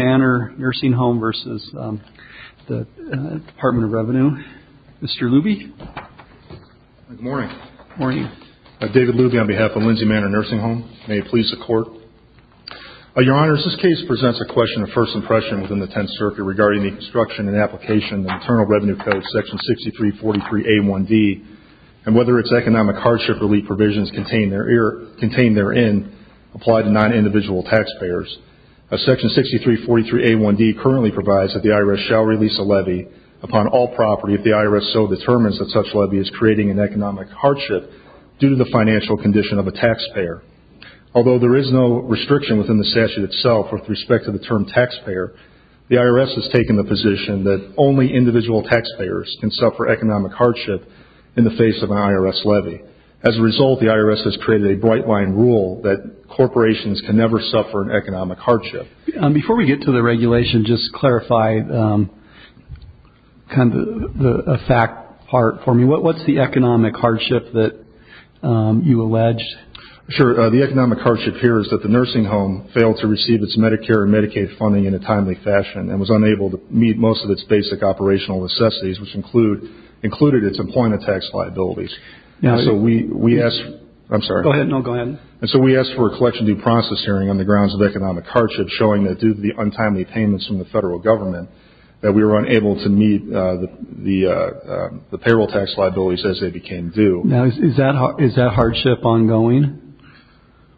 Manor Nursing Home v. Department of Revenue. Mr. Luby. Good morning. David Luby on behalf of Lindsay Manor Nursing Home. May it please the Court. Your Honors, this case presents a question of first impression within the Tenth Circuit regarding the construction and application of the Internal Revenue Code, Section 6343A1D, and whether its economic hardship relief provisions contained therein apply to non-individual taxpayers. Section 6343A1D currently provides that the IRS shall release a levy upon all property if the IRS so determines that such levy is creating an economic hardship due to the financial condition of a taxpayer. Although there is no restriction within the statute itself with respect to the term taxpayer, the IRS has taken the position that only individual taxpayers can suffer economic hardship in the face of an IRS levy. As a result, the IRS has created a bright-line rule that corporations can never suffer an economic hardship. Before we get to the regulation, just clarify kind of the fact part for me. What's the economic hardship that you allege? Sure. The economic hardship here is that the nursing home failed to receive its Medicare and Medicaid funding in a timely fashion and was unable to meet most of its basic operational necessities, which included its employment tax liabilities. And so we asked for a collection due process hearing on the grounds of economic hardship, showing that due to the untimely payments from the federal government, that we were unable to meet the payroll tax liabilities as they became due. Now, is that hardship ongoing?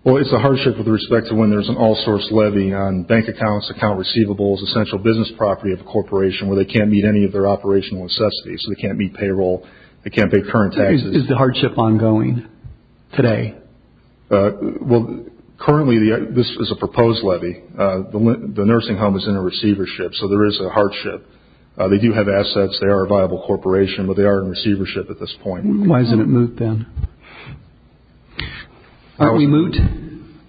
Well, it's a hardship with respect to when there's an all-source levy on bank accounts, account receivables, essential business property of a corporation where they can't meet any of their operational necessities. They can't meet payroll. They can't pay current taxes. Is the hardship ongoing today? Well, currently this is a proposed levy. The nursing home is in a receivership, so there is a hardship. They do have assets. They are a viable corporation, but they are in receivership at this point. Why hasn't it moved then? Aren't we moot?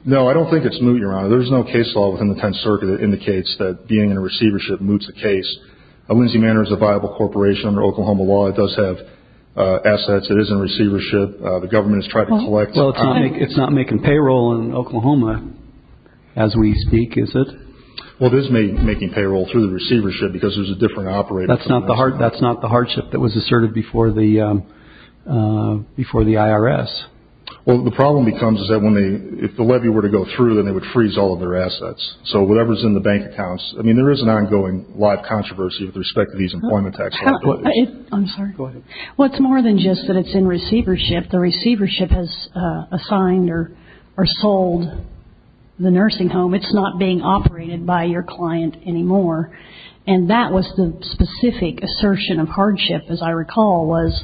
No, I don't think it's moot, Your Honor. There's no case law within the Tenth Circuit that indicates that being in a receivership moots the case. Lindsay Manor is a viable corporation under Oklahoma law. It does have assets. It is in receivership. The government has tried to collect. Well, it's not making payroll in Oklahoma as we speak, is it? Well, it is making payroll through the receivership because there's a different operator. That's not the hardship that was asserted before the IRS. Well, the problem becomes is that if the levy were to go through, then they would freeze all of their assets. So whatever is in the bank accounts, I mean, there is an ongoing lot of controversy with respect to these employment taxes. I'm sorry. Go ahead. Well, it's more than just that it's in receivership. The receivership has assigned or sold the nursing home. It's not being operated by your client anymore, and that was the specific assertion of hardship, as I recall, was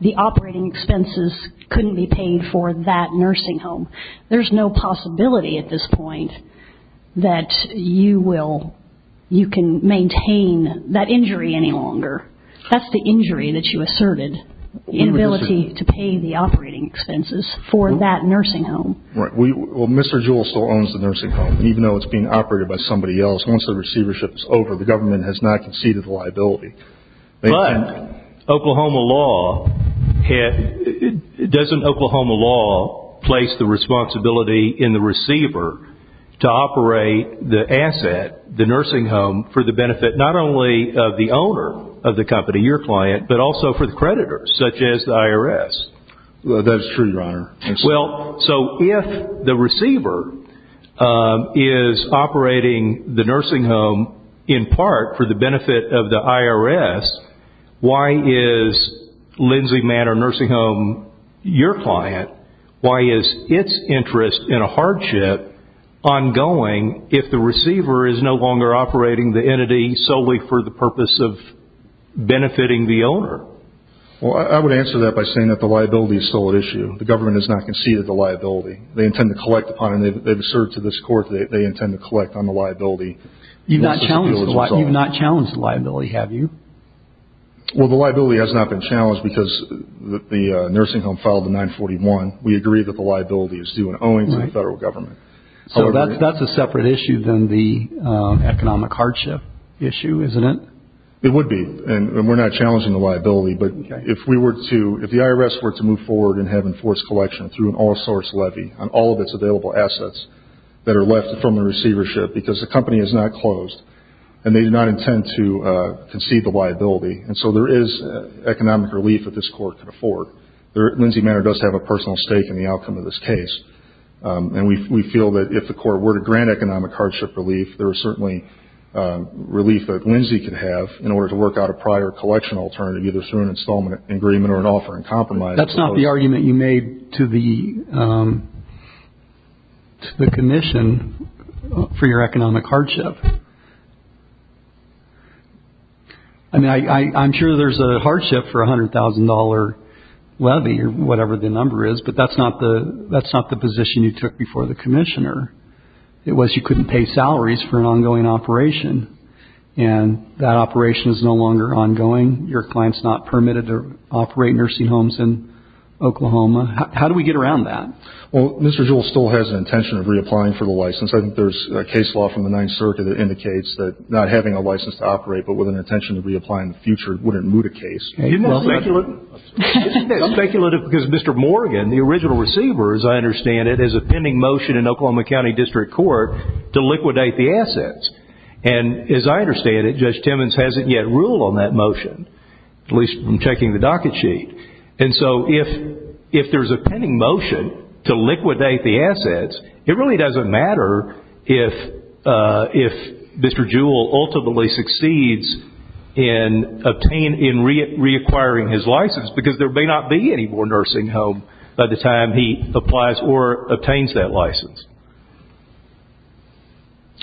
the operating expenses couldn't be paid for that nursing home. There's no possibility at this point that you can maintain that injury any longer. That's the injury that you asserted, inability to pay the operating expenses for that nursing home. Right. Well, Mr. Jewell still owns the nursing home, even though it's being operated by somebody else. Once the receivership is over, the government has not conceded the liability. But Oklahoma law, doesn't Oklahoma law place the responsibility in the receiver to operate the asset, the nursing home, for the benefit not only of the owner of the company, your client, but also for the creditors, such as the IRS? That's true, Your Honor. Well, so if the receiver is operating the nursing home in part for the benefit of the IRS, why is Lindsay Manor Nursing Home your client? Why is its interest in a hardship ongoing if the receiver is no longer operating the entity solely for the purpose of benefiting the owner? Well, I would answer that by saying that the liability is still at issue. The government has not conceded the liability. They intend to collect upon it. They've asserted to this court that they intend to collect on the liability. You've not challenged the liability, have you? Well, the liability has not been challenged because the nursing home filed the 941. We agree that the liability is due and owing to the federal government. So that's a separate issue than the economic hardship issue, isn't it? It would be, and we're not challenging the liability. But if we were to, if the IRS were to move forward and have enforced collection through an all-source levy on all of its available assets that are left from the receivership because the company is not closed and they do not intend to concede the liability, and so there is economic relief that this court can afford. Lindsay Manor does have a personal stake in the outcome of this case. And we feel that if the court were to grant economic hardship relief, there is certainly relief that Lindsay could have in order to work out a prior collection alternative, either through an installment agreement or an offer in compromise. That's not the argument you made to the commission for your economic hardship. I mean, I'm sure there's a hardship for a $100,000 levy or whatever the number is, but that's not the position you took before the commissioner. It was you couldn't pay salaries for an ongoing operation. And that operation is no longer ongoing. Your client's not permitted to operate nursing homes in Oklahoma. How do we get around that? Well, Mr. Jewell still has an intention of reapplying for the license. I think there's a case law from the Ninth Circuit that indicates that not having a license to operate but with an intention to reapply in the future wouldn't moot a case. Isn't that speculative? I'm speculative because Mr. Morgan, the original receiver, as I understand it, has a pending motion in Oklahoma County District Court to liquidate the assets. And as I understand it, Judge Timmons hasn't yet ruled on that motion, at least from checking the docket sheet. And so if there's a pending motion to liquidate the assets, it really doesn't matter if Mr. Jewell ultimately succeeds in reacquiring his license because there may not be any more nursing home by the time he applies or obtains that license.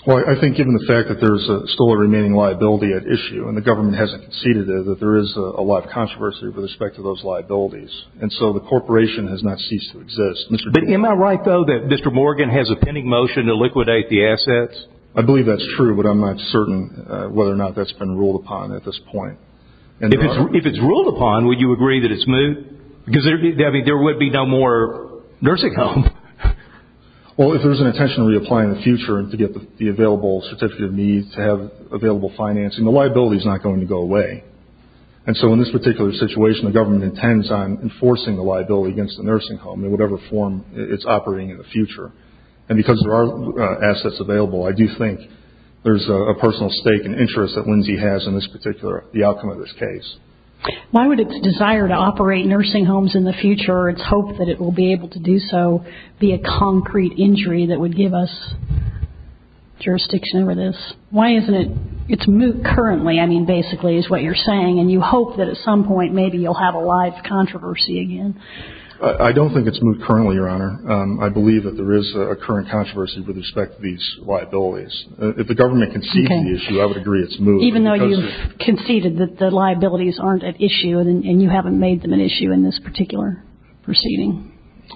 Well, I think given the fact that there's still a remaining liability at issue and the government hasn't conceded it, that there is a lot of controversy with respect to those liabilities. And so the corporation has not ceased to exist. But am I right, though, that Mr. Morgan has a pending motion to liquidate the assets? I believe that's true, but I'm not certain whether or not that's been ruled upon at this point. If it's ruled upon, would you agree that it's moot? Because there would be no more nursing home. Well, if there's an intention to reapply in the future to get the available certificate of needs, to have available financing, the liability is not going to go away. And so in this particular situation, the government intends on enforcing the liability against the nursing home in whatever form it's operating in the future. And because there are assets available, I do think there's a personal stake and interest that Lindsay has in this particular, the outcome of this case. Why would its desire to operate nursing homes in the future, or its hope that it will be able to do so, be a concrete injury that would give us jurisdiction over this? Why isn't it, it's moot currently, I mean, basically, is what you're saying. And you hope that at some point maybe you'll have a live controversy again. I don't think it's moot currently, Your Honor. I believe that there is a current controversy with respect to these liabilities. If the government concedes the issue, I would agree it's moot. Even though you've conceded that the liabilities aren't at issue and you haven't made them an issue in this particular proceeding?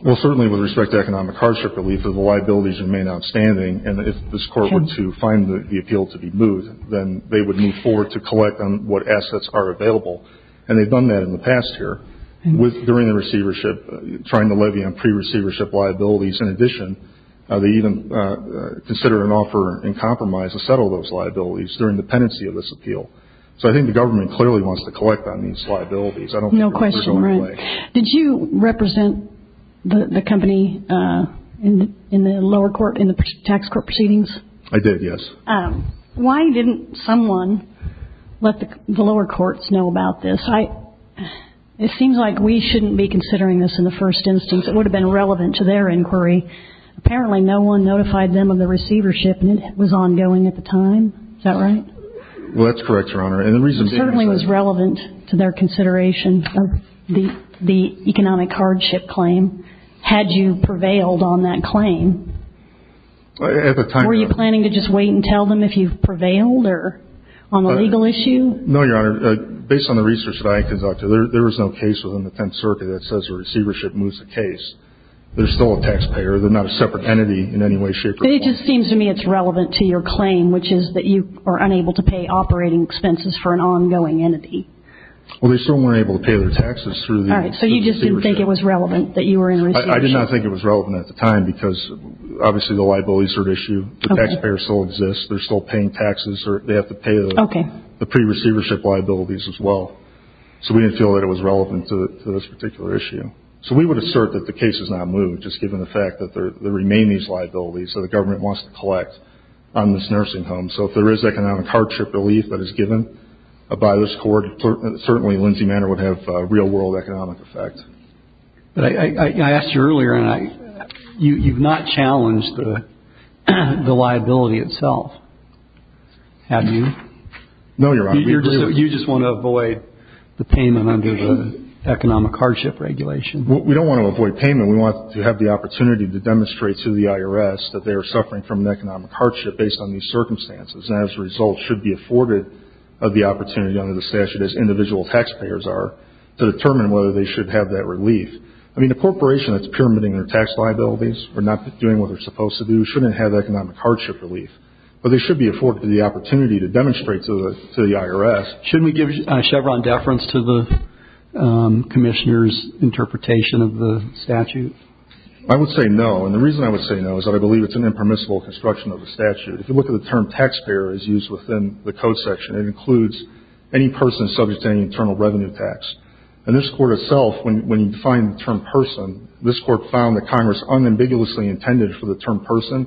Well, certainly with respect to economic hardship relief, the liabilities remain outstanding. And if this Court were to find the appeal to be moot, then they would move forward to collect on what assets are available. And they've done that in the past here. During the receivership, trying to levy on pre-receivership liabilities in addition, they even consider an offer in compromise to settle those liabilities during the pendency of this appeal. So I think the government clearly wants to collect on these liabilities. No question, right. Did you represent the company in the lower court, in the tax court proceedings? I did, yes. Why didn't someone let the lower courts know about this? It seems like we shouldn't be considering this in the first instance. It would have been relevant to their inquiry. Apparently, no one notified them of the receivership. And it was ongoing at the time. Is that right? Well, that's correct, Your Honor. And the reason being is... It certainly was relevant to their consideration of the economic hardship claim had you prevailed on that claim. At the time... Were you planning to just wait and tell them if you've prevailed or on the legal issue? No, Your Honor. Based on the research that I conducted, there was no case within the Tenth Circuit that says a receivership moves the case. They're still a taxpayer. They're not a separate entity in any way, shape, or form. But it just seems to me it's relevant to your claim, which is that you are unable to pay operating expenses for an ongoing entity. Well, they still weren't able to pay their taxes through the receivership. All right. So you just didn't think it was relevant that you were in receivership? I did not think it was relevant at the time because obviously the liabilities were at issue. The taxpayers still exist. They're still paying taxes. They have to pay the pre-receivership liabilities as well. So we didn't feel that it was relevant to this particular issue. So we would assert that the case has not moved, just given the fact that there remain these liabilities that the government wants to collect on this nursing home. So if there is economic hardship relief that is given by this court, certainly Lindsay Manor would have real-world economic effect. But I asked you earlier, and you've not challenged the liability itself, have you? No, Your Honor. We agree with you. So you just want to avoid the payment under the economic hardship regulation? We don't want to avoid payment. We want to have the opportunity to demonstrate to the IRS that they are suffering from an economic hardship based on these circumstances and as a result should be afforded the opportunity under the statute, as individual taxpayers are, to determine whether they should have that relief. I mean, a corporation that's pyramiding their tax liabilities or not doing what they're supposed to do shouldn't have economic hardship relief. But they should be afforded the opportunity to demonstrate to the IRS. Shouldn't we give Chevron deference to the Commissioner's interpretation of the statute? I would say no, and the reason I would say no is that I believe it's an impermissible construction of the statute. If you look at the term taxpayer as used within the code section, it includes any person subject to any internal revenue tax. And this Court itself, when you define the term person, this Court found that Congress unambiguously intended for the term person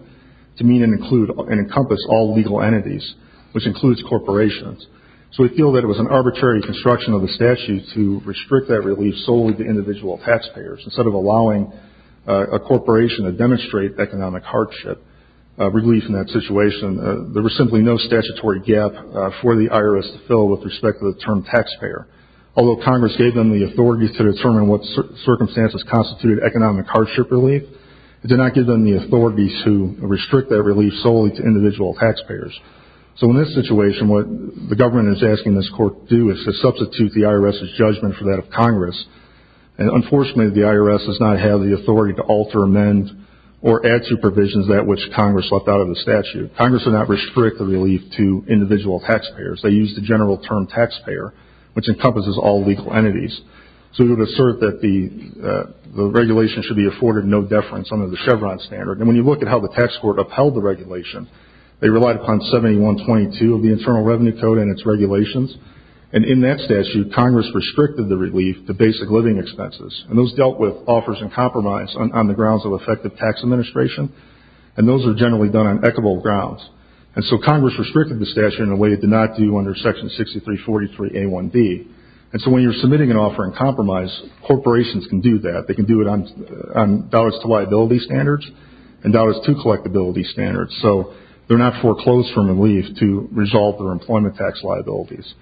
to mean and encompass all legal entities, which includes corporations. So we feel that it was an arbitrary construction of the statute to restrict that relief solely to individual taxpayers. Instead of allowing a corporation to demonstrate economic hardship relief in that situation, there was simply no statutory gap for the IRS to fill with respect to the term taxpayer. Although Congress gave them the authority to determine what circumstances constituted economic hardship relief, it did not give them the authority to restrict that relief solely to individual taxpayers. So in this situation, what the government is asking this Court to do is to substitute the IRS's judgment for that of Congress. And unfortunately, the IRS does not have the authority to alter, amend, or add to provisions that which Congress left out of the statute. Congress did not restrict the relief to individual taxpayers. They used the general term taxpayer, which encompasses all legal entities. So we would assert that the regulation should be afforded no deference under the Chevron standard. And when you look at how the tax court upheld the regulation, they relied upon 7122 of the Internal Revenue Code and its regulations. And in that statute, Congress restricted the relief to basic living expenses. And those dealt with offers and compromise on the grounds of effective tax administration. And those are generally done on equitable grounds. And so Congress restricted the statute in a way it did not do under Section 6343a1b. And so when you're submitting an offer in compromise, corporations can do that. They can do it on dollars-to-liability standards and dollars-to-collectability standards. So they're not foreclosed from relief to resolve their employment tax liabilities.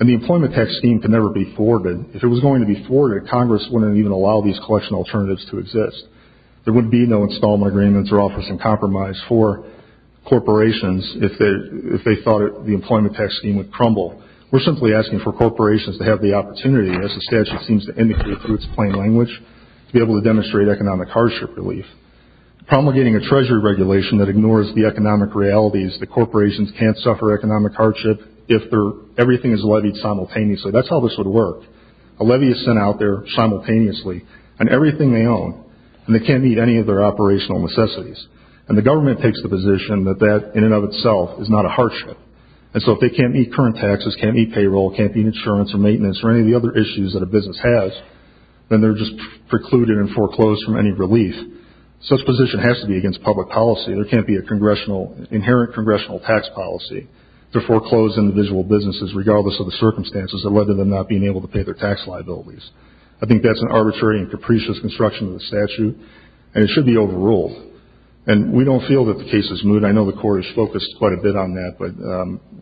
And the employment tax scheme can never be forwarded. If it was going to be forwarded, Congress wouldn't even allow these collection alternatives to exist. There would be no installment agreements or offers in compromise for corporations if they thought the employment tax scheme would crumble. We're simply asking for corporations to have the opportunity, as the statute seems to indicate through its plain language, to be able to demonstrate economic hardship relief. The problem with getting a Treasury regulation that ignores the economic realities, the corporations can't suffer economic hardship if everything is levied simultaneously. That's how this would work. A levy is sent out there simultaneously on everything they own, and they can't meet any of their operational necessities. And the government takes the position that that, in and of itself, is not a hardship. And so if they can't meet current taxes, can't meet payroll, can't meet insurance or maintenance or any of the other issues that a business has, then they're just precluded and foreclosed from any relief. Such a position has to be against public policy. There can't be an inherent congressional tax policy to foreclose individual businesses regardless of the circumstances that led to them not being able to pay their tax liabilities. I think that's an arbitrary and capricious construction of the statute, and it should be overruled. And we don't feel that the case is moot. I know the court has focused quite a bit on that, but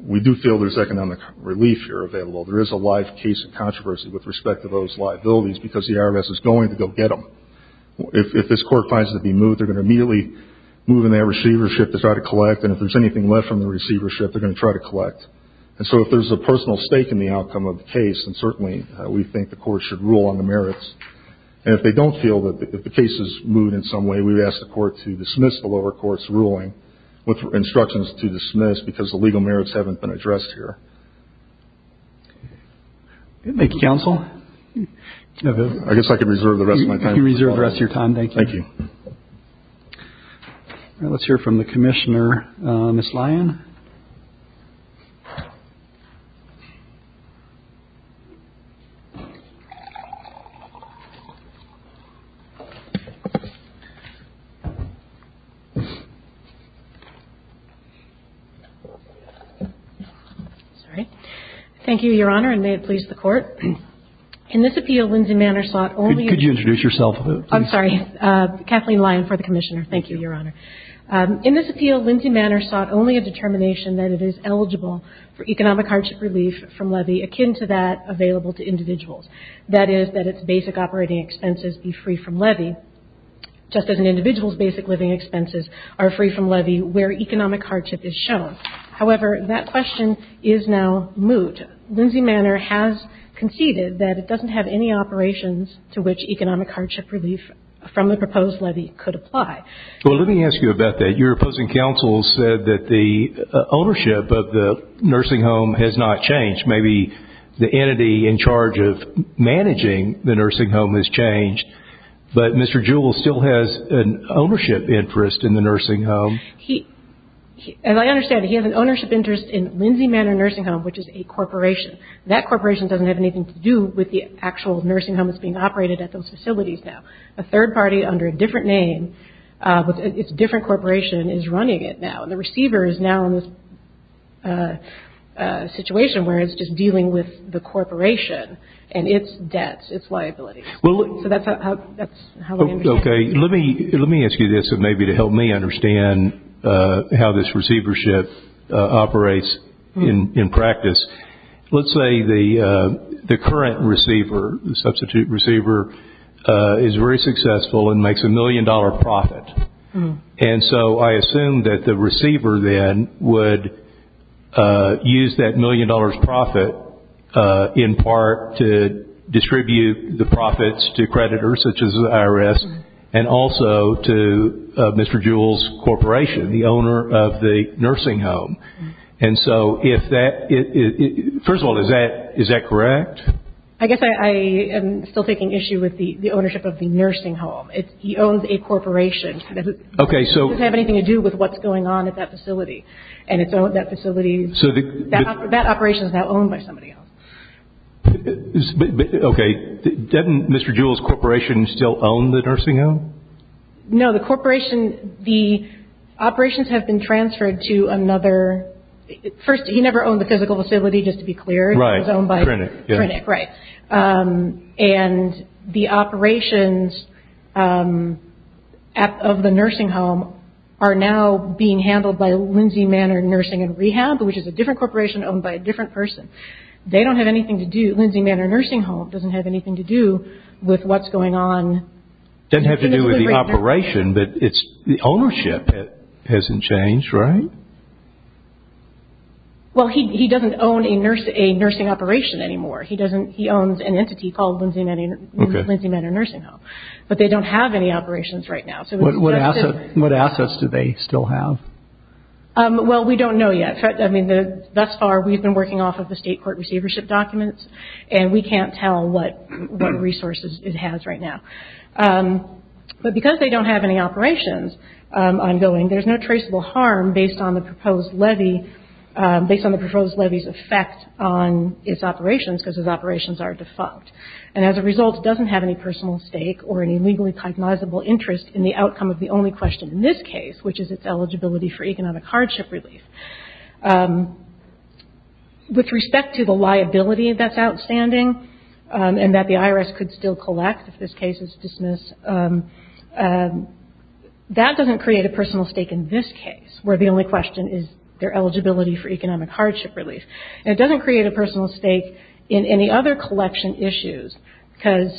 we do feel there's economic relief here available. There is a live case of controversy with respect to those liabilities because the IRS is going to go get them. If this court finds it to be moot, they're going to immediately move in their receivership to try to collect, and if there's anything left from the receivership, they're going to try to collect. And so if there's a personal stake in the outcome of the case, then certainly we think the court should rule on the merits. And if they don't feel that the case is moot in some way, we would ask the court to dismiss the lower court's ruling with instructions to dismiss because the legal merits haven't been addressed here. Thank you, counsel. I guess I could reserve the rest of my time. You can reserve the rest of your time. Thank you. Thank you. Let's hear from the commissioner, Ms. Lyon. Thank you, Your Honor, and may it please the court. In this appeal, Lindsay Manor sought only to introduce herself. I'm sorry. Kathleen Lyon for the commissioner. Thank you, Your Honor. In this appeal, Lindsay Manor sought only a determination that it is eligible for economic hardship relief from levy akin to that available to individuals. That is, that its basic operating expenses be free from levy, just as an individual's basic living expenses are free from levy where economic hardship is shown. However, that question is now moot. Lindsay Manor has conceded that it doesn't have any operations to which economic hardship relief from the proposed levy could apply. Well, let me ask you about that. Your opposing counsel said that the ownership of the nursing home has not changed. Maybe the entity in charge of managing the nursing home has changed, but Mr. Jewell still has an ownership interest in the nursing home. As I understand it, he has an ownership interest in Lindsay Manor Nursing Home, which is a corporation. That corporation doesn't have anything to do with the actual nursing homes being operated at those facilities now. A third party under a different name with a different corporation is running it now, and the receiver is now in this situation where it's just dealing with the corporation and its debts, its liabilities. So that's how I understand it. Okay. Let me ask you this, maybe to help me understand how this receivership operates in practice. Let's say the current receiver, the substitute receiver, is very successful and makes a million-dollar profit. And so I assume that the receiver then would use that million-dollar profit, in part, to distribute the profits to creditors, such as the IRS, and also to Mr. Jewell's corporation, the owner of the nursing home. And so if that – first of all, is that correct? I guess I am still taking issue with the ownership of the nursing home. He owns a corporation. Okay, so – It doesn't have anything to do with what's going on at that facility. And that facility – that operation is now owned by somebody else. Okay. Doesn't Mr. Jewell's corporation still own the nursing home? No, the corporation – the operations have been transferred to another – first, he never owned the physical facility, just to be clear. Right. It was owned by – Crinnick, yes. Crinnick, right. And the operations of the nursing home are now being handled by Lindsay Manor Nursing and Rehab, which is a different corporation owned by a different person. They don't have anything to do – Lindsay Manor Nursing Home doesn't have anything to do with what's going on. It doesn't have to do with the operation, but it's – the ownership hasn't changed, right? Well, he doesn't own a nursing operation anymore. He doesn't – he owns an entity called Lindsay Manor Nursing Home. But they don't have any operations right now. What assets do they still have? Well, we don't know yet. I mean, thus far, we've been working off of the state court receivership documents, and we can't tell what resources it has right now. But because they don't have any operations ongoing, there's no traceable harm based on the proposed levy – based on the proposed levy's effect on its operations, because its operations are defunct. And as a result, it doesn't have any personal stake or any legally cognizable interest in the outcome of the only question in this case, which is its eligibility for economic hardship relief. With respect to the liability that's outstanding and that the IRS could still collect if this case is dismissed, that doesn't create a personal stake in this case, where the only question is their eligibility for economic hardship relief. And it doesn't create a personal stake in any other collection issues, because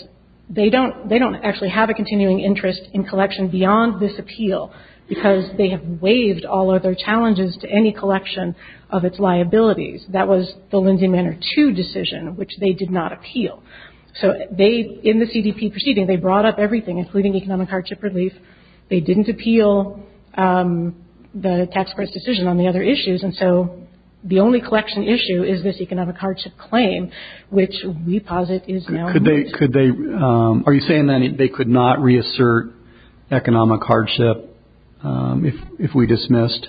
they don't – they don't actually have a continuing interest in collection beyond this appeal, because they have waived all other challenges to any collection of its liabilities. That was the Lindsay Manor II decision, which they did not appeal. So they – in the CDP proceeding, they brought up everything, including economic hardship relief. They didn't appeal the tax credit decision on the other issues, and so the only collection issue is this economic hardship claim, which we posit is now – Could they – are you saying that they could not reassert economic hardship if we dismissed?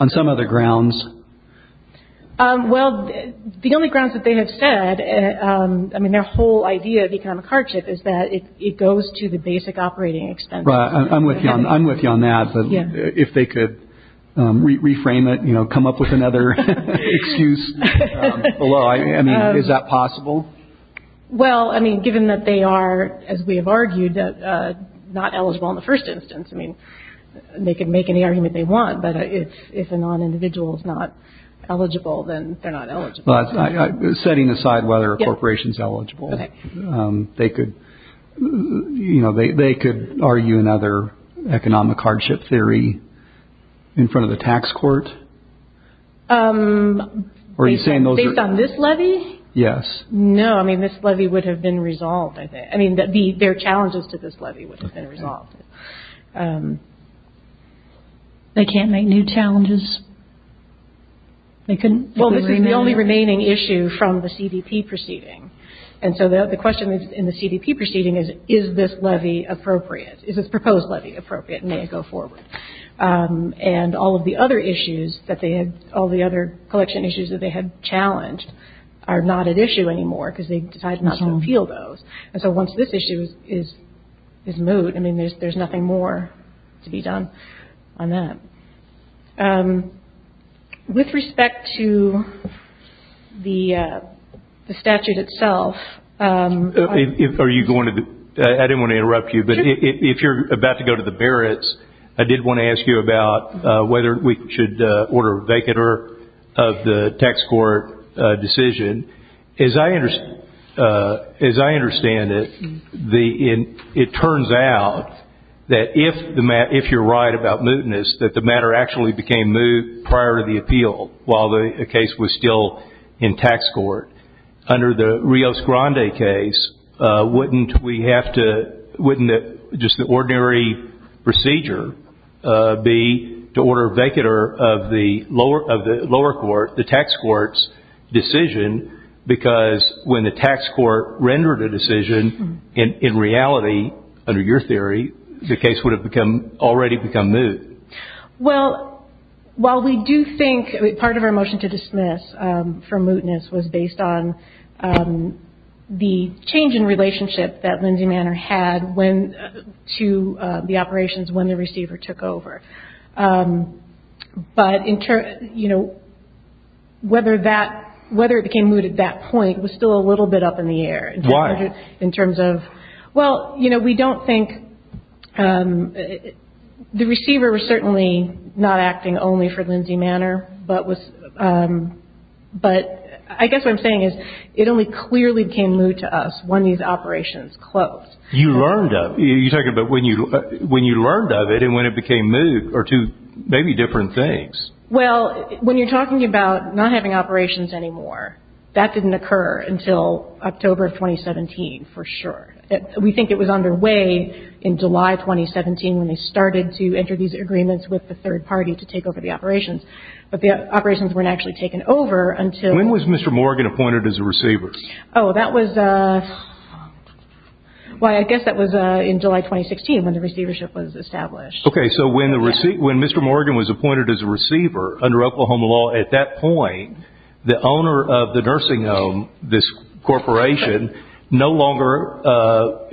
On some other grounds? Well, the only grounds that they have said – I mean, their whole idea of economic hardship is that it goes to the basic operating expenses. Right. I'm with you on that. But if they could reframe it, you know, come up with another excuse below. I mean, is that possible? Well, I mean, given that they are, as we have argued, not eligible in the first instance, I mean, they can make any argument they want, but if a non-individual is not eligible, then they're not eligible. Setting aside whether a corporation is eligible, they could – you know, they could argue another economic hardship theory in front of the tax court? Are you saying those are – Based on this levy? Yes. No, I mean, this levy would have been resolved, I think. I mean, their challenges to this levy would have been resolved. They can't make new challenges? Well, this is the only remaining issue from the CDP proceeding, and so the question in the CDP proceeding is, is this levy appropriate? Is this proposed levy appropriate and may it go forward? And all of the other issues that they had – all the other collection issues that they had challenged are not at issue anymore because they decided not to appeal those. And so once this issue is moot, I mean, there's nothing more to be done on that. With respect to the statute itself – Are you going to – I didn't want to interrupt you, but if you're about to go to the Barrett's, I did want to ask you about whether we should order a vacater of the tax court decision. As I understand it, it turns out that if you're right about mootness, that the matter actually became moot prior to the appeal while the case was still in tax court. Under the Rios Grande case, wouldn't we have to – wouldn't just the ordinary procedure be to order a vacater of the lower court, the tax court's decision, because when the tax court rendered a decision, in reality, under your theory, the case would have become – already become moot. Well, while we do think – part of our motion to dismiss for mootness was based on the change in relationship that Lindsay Manor had to the operations when the receiver took over. But whether it became moot at that point was still a little bit up in the air. Why? In terms of – well, you know, we don't think – the receiver was certainly not acting only for Lindsay Manor, but I guess what I'm saying is it only clearly became moot to us when these operations closed. You learned of it. You're talking about when you learned of it and when it became moot are two maybe different things. Well, when you're talking about not having operations anymore, that didn't occur until October of 2017 for sure. We think it was underway in July 2017 when they started to enter these agreements with the third party to take over the operations. But the operations weren't actually taken over until – When was Mr. Morgan appointed as a receiver? Oh, that was – well, I guess that was in July 2016 when the receivership was established. Okay, so when Mr. Morgan was appointed as a receiver under Oklahoma law at that point, the owner of the nursing home, this corporation, no longer,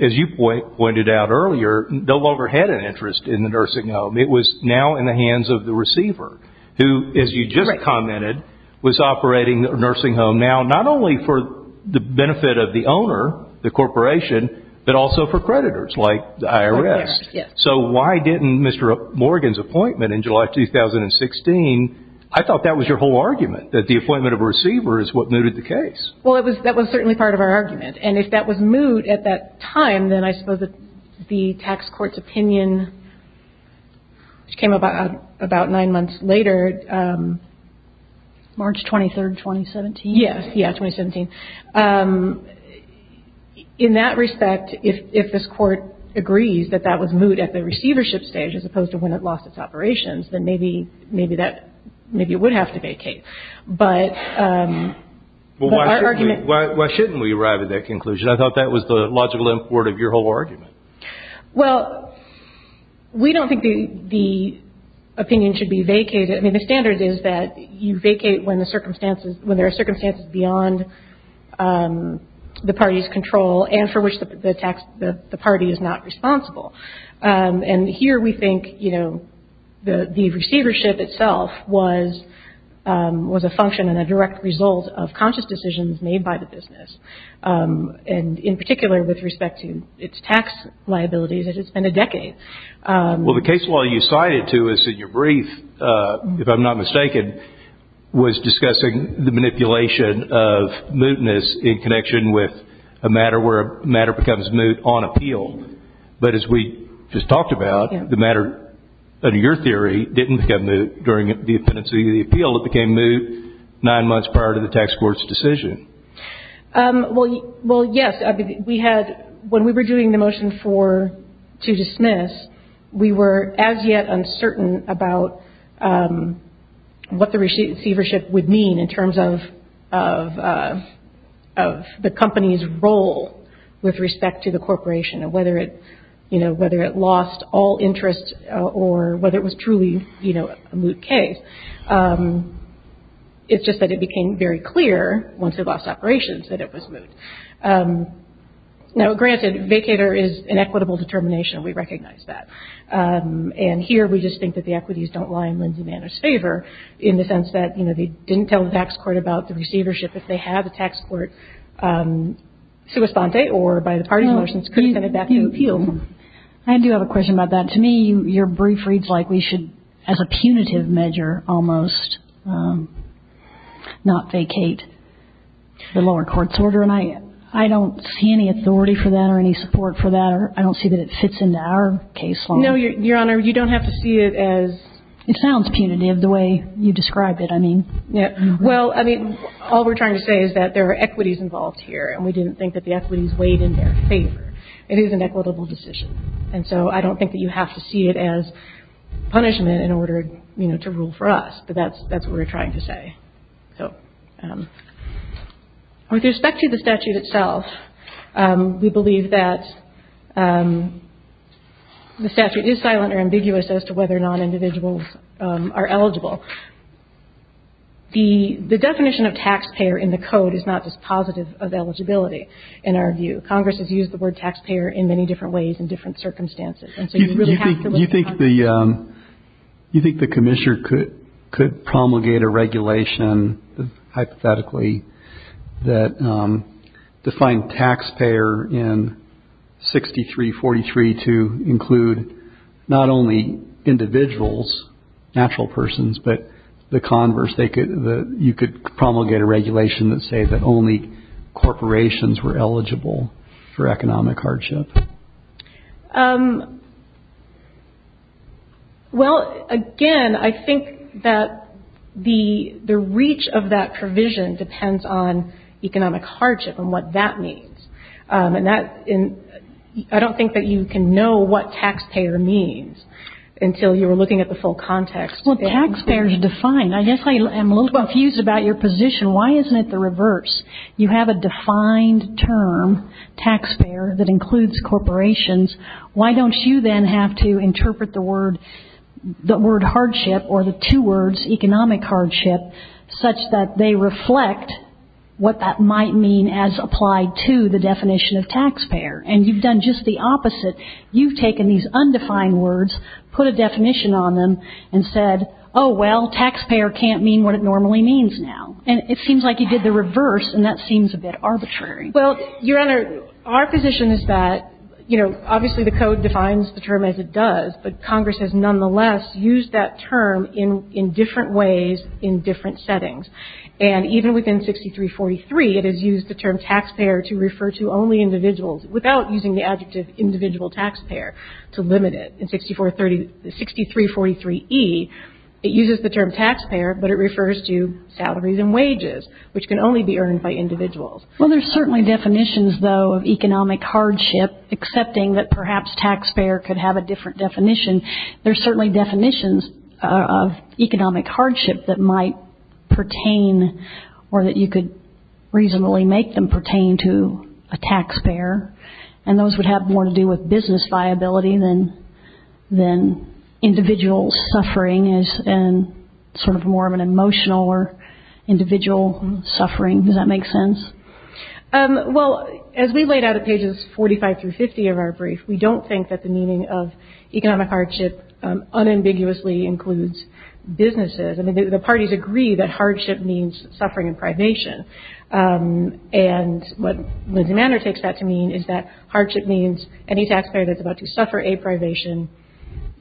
as you pointed out earlier, no longer had an interest in the nursing home. It was now in the hands of the receiver who, as you just commented, was operating the nursing home now, not only for the benefit of the owner, the corporation, but also for creditors like the IRS. Yes. So why didn't Mr. Morgan's appointment in July 2016 – I thought that was your whole argument, that the appointment of a receiver is what mooted the case. Well, that was certainly part of our argument. And if that was moot at that time, then I suppose the tax court's opinion, which came about nine months later – March 23rd, 2017? Yes, yeah, 2017. In that respect, if this court agrees that that was moot at the receivership stage as opposed to when it lost its operations, then maybe that – maybe it would have to vacate. But our argument – Well, why shouldn't we arrive at that conclusion? I thought that was the logical import of your whole argument. Well, we don't think the opinion should be vacated. I mean, the standard is that you vacate when there are circumstances beyond the party's control and for which the party is not responsible. And here we think, you know, the receivership itself was a function and a direct result of conscious decisions made by the business, and in particular with respect to its tax liabilities, as it's been a decade. Well, the case law you cited to us in your brief, if I'm not mistaken, was discussing the manipulation of mootness in connection with a matter where a matter becomes moot on appeal. But as we just talked about, the matter, under your theory, didn't become moot during the impendence of the appeal. It became moot nine months prior to the tax court's decision. Well, yes. When we were doing the motion to dismiss, we were as yet uncertain about what the receivership would mean in terms of the company's role with respect to the corporation and whether it lost all interest or whether it was truly a moot case. It's just that it became very clear, once it lost operations, that it was moot. Now, granted, vacator is an equitable determination. We recognize that. And here we just think that the equities don't lie in Lindsay Manor's favor in the sense that, you know, they didn't tell the tax court about the receivership. If they had, the tax court, sua sponte, or by the party motions, could have sent it back to the appeal. I do have a question about that. To me, your brief reads like we should, as a punitive measure almost, not vacate the lower court's order. And I don't see any authority for that or any support for that. I don't see that it fits into our case law. No, Your Honor. You don't have to see it as... It sounds punitive the way you describe it. I mean... Well, I mean, all we're trying to say is that there are equities involved here, and we didn't think that the equities weighed in their favor. It is an equitable decision. And so I don't think that you have to see it as punishment in order, you know, to rule for us. But that's what we're trying to say. So with respect to the statute itself, we believe that the statute is silent or ambiguous as to whether or not individuals are eligible. The definition of taxpayer in the code is not just positive of eligibility, in our view. Congress has used the word taxpayer in many different ways in different circumstances. And so you really have to look at Congress. You think the commissioner could promulgate a regulation, hypothetically, that defined taxpayer in 6343 to include not only individuals, natural persons, but the converse. You could promulgate a regulation that said that only corporations were eligible for economic hardship. Well, again, I think that the reach of that provision depends on economic hardship and what that means. And I don't think that you can know what taxpayer means until you are looking at the full context. Well, taxpayer is defined. I guess I am a little confused about your position. Why isn't it the reverse? You have a defined term, taxpayer, that includes corporations. Why don't you then have to interpret the word hardship or the two words, economic hardship, such that they reflect what that might mean as applied to the definition of taxpayer? And you've done just the opposite. You've taken these undefined words, put a definition on them, and said, oh, well, taxpayer can't mean what it normally means now. And it seems like you did the reverse, and that seems a bit arbitrary. Well, Your Honor, our position is that, you know, obviously the code defines the term as it does, but Congress has nonetheless used that term in different ways in different settings. And even within 6343, it has used the term taxpayer to refer to only individuals without using the adjective individual taxpayer to limit it. In 6343E, it uses the term taxpayer, but it refers to salaries and wages, which can only be earned by individuals. Well, there are certainly definitions, though, of economic hardship, excepting that perhaps taxpayer could have a different definition. There are certainly definitions of economic hardship that might pertain or that you could reasonably make them pertain to a taxpayer, and those would have more to do with business viability than individual suffering as sort of more of an emotional or individual suffering. Does that make sense? Well, as we laid out at pages 45 through 50 of our brief, we don't think that the meaning of economic hardship unambiguously includes businesses. I mean, the parties agree that hardship means suffering in privation, and what Lindsay Manor takes that to mean is that hardship means any taxpayer that's about to suffer a privation,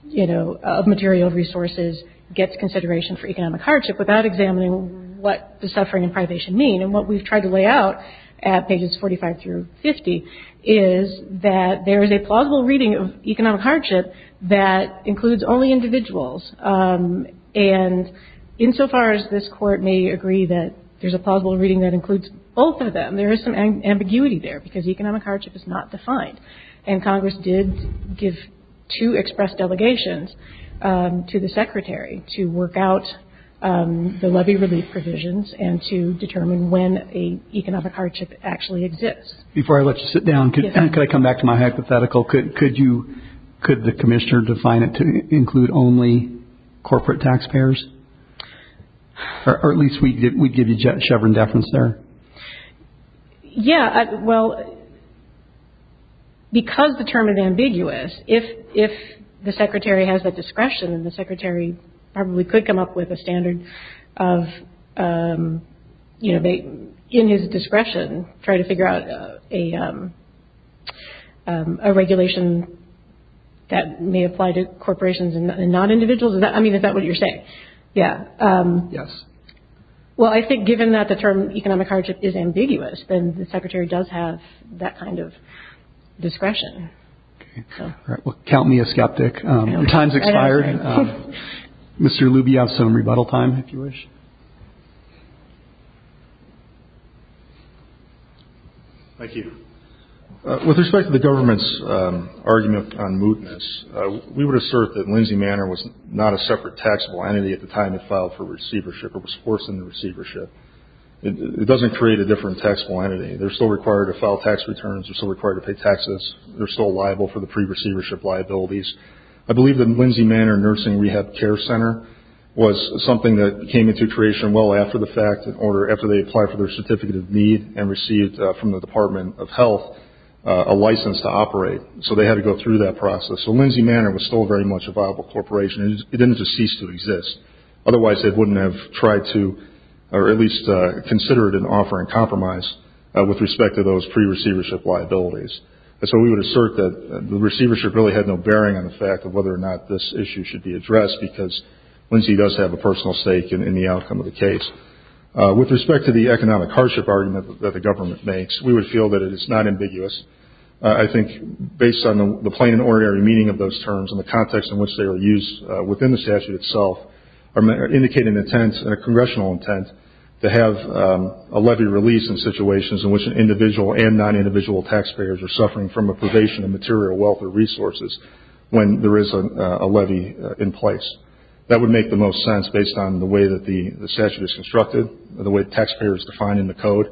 you know, of material resources gets consideration for economic hardship without examining what the suffering and privation mean. And what we've tried to lay out at pages 45 through 50 is that there is a plausible reading of economic hardship that includes only individuals. And insofar as this Court may agree that there's a plausible reading that includes both of them, there is some ambiguity there because economic hardship is not defined. And Congress did give two express delegations to the Secretary to work out the levy relief provisions and to determine when an economic hardship actually exists. Before I let you sit down, could I come back to my hypothetical? Could the Commissioner define it to include only corporate taxpayers? Or at least we'd give you chevron deference there. Yeah, well, because the term is ambiguous, if the Secretary has the discretion, and the Secretary probably could come up with a standard of, you know, in his discretion, try to figure out a regulation that may apply to corporations and non-individuals. I mean, is that what you're saying? Yeah. Yes. Well, I think given that the term economic hardship is ambiguous, then the Secretary does have that kind of discretion. All right. Well, count me a skeptic. Your time's expired. Mr. Luby, you have some rebuttal time, if you wish. Thank you. With respect to the government's argument on mootness, we would assert that Lindsay Manor was not a separate taxable entity at the time it filed for receivership or was forced into receivership. It doesn't create a different taxable entity. They're still required to file tax returns. They're still required to pay taxes. They're still liable for the pre-receivership liabilities. I believe that Lindsay Manor Nursing Rehab Care Center was something that came into creation well after the fact, in order, after they applied for their certificate of need and received from the Department of Health a license to operate. So they had to go through that process. So Lindsay Manor was still very much a viable corporation. It didn't just cease to exist. Otherwise, they wouldn't have tried to or at least considered an offer in compromise with respect to those pre-receivership liabilities. So we would assert that the receivership really had no bearing on the fact of whether or not this issue should be addressed because Lindsay does have a personal stake in the outcome of the case. With respect to the economic hardship argument that the government makes, we would feel that it is not ambiguous. I think based on the plain and ordinary meaning of those terms and the context in which they are used within the statute itself, are indicating an intent and a congressional intent to have a levy released in situations in which an individual and non-individual taxpayers are suffering from a privation of material wealth or resources when there is a levy in place. That would make the most sense based on the way that the statute is constructed, the way the taxpayer is defined in the code.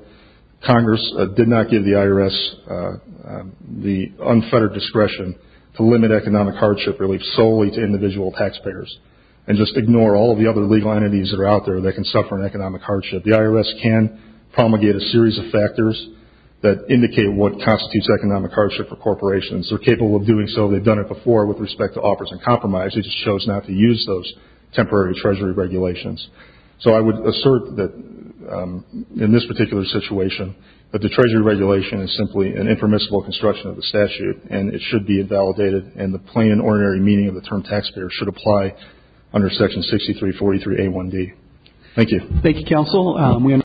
Congress did not give the IRS the unfettered discretion to limit economic hardship relief solely to individual taxpayers and just ignore all of the other legal entities that are out there that can suffer an economic hardship. The IRS can promulgate a series of factors that indicate what constitutes economic hardship for corporations. They're capable of doing so. They've done it before with respect to offers in compromise. They just chose not to use those temporary treasury regulations. So I would assert that in this particular situation, that the treasury regulation is simply an impermissible construction of the statute and it should be invalidated and the plain and ordinary meaning of the term taxpayer should apply under Section 6343A1D. Thank you. Thank you, Counsel.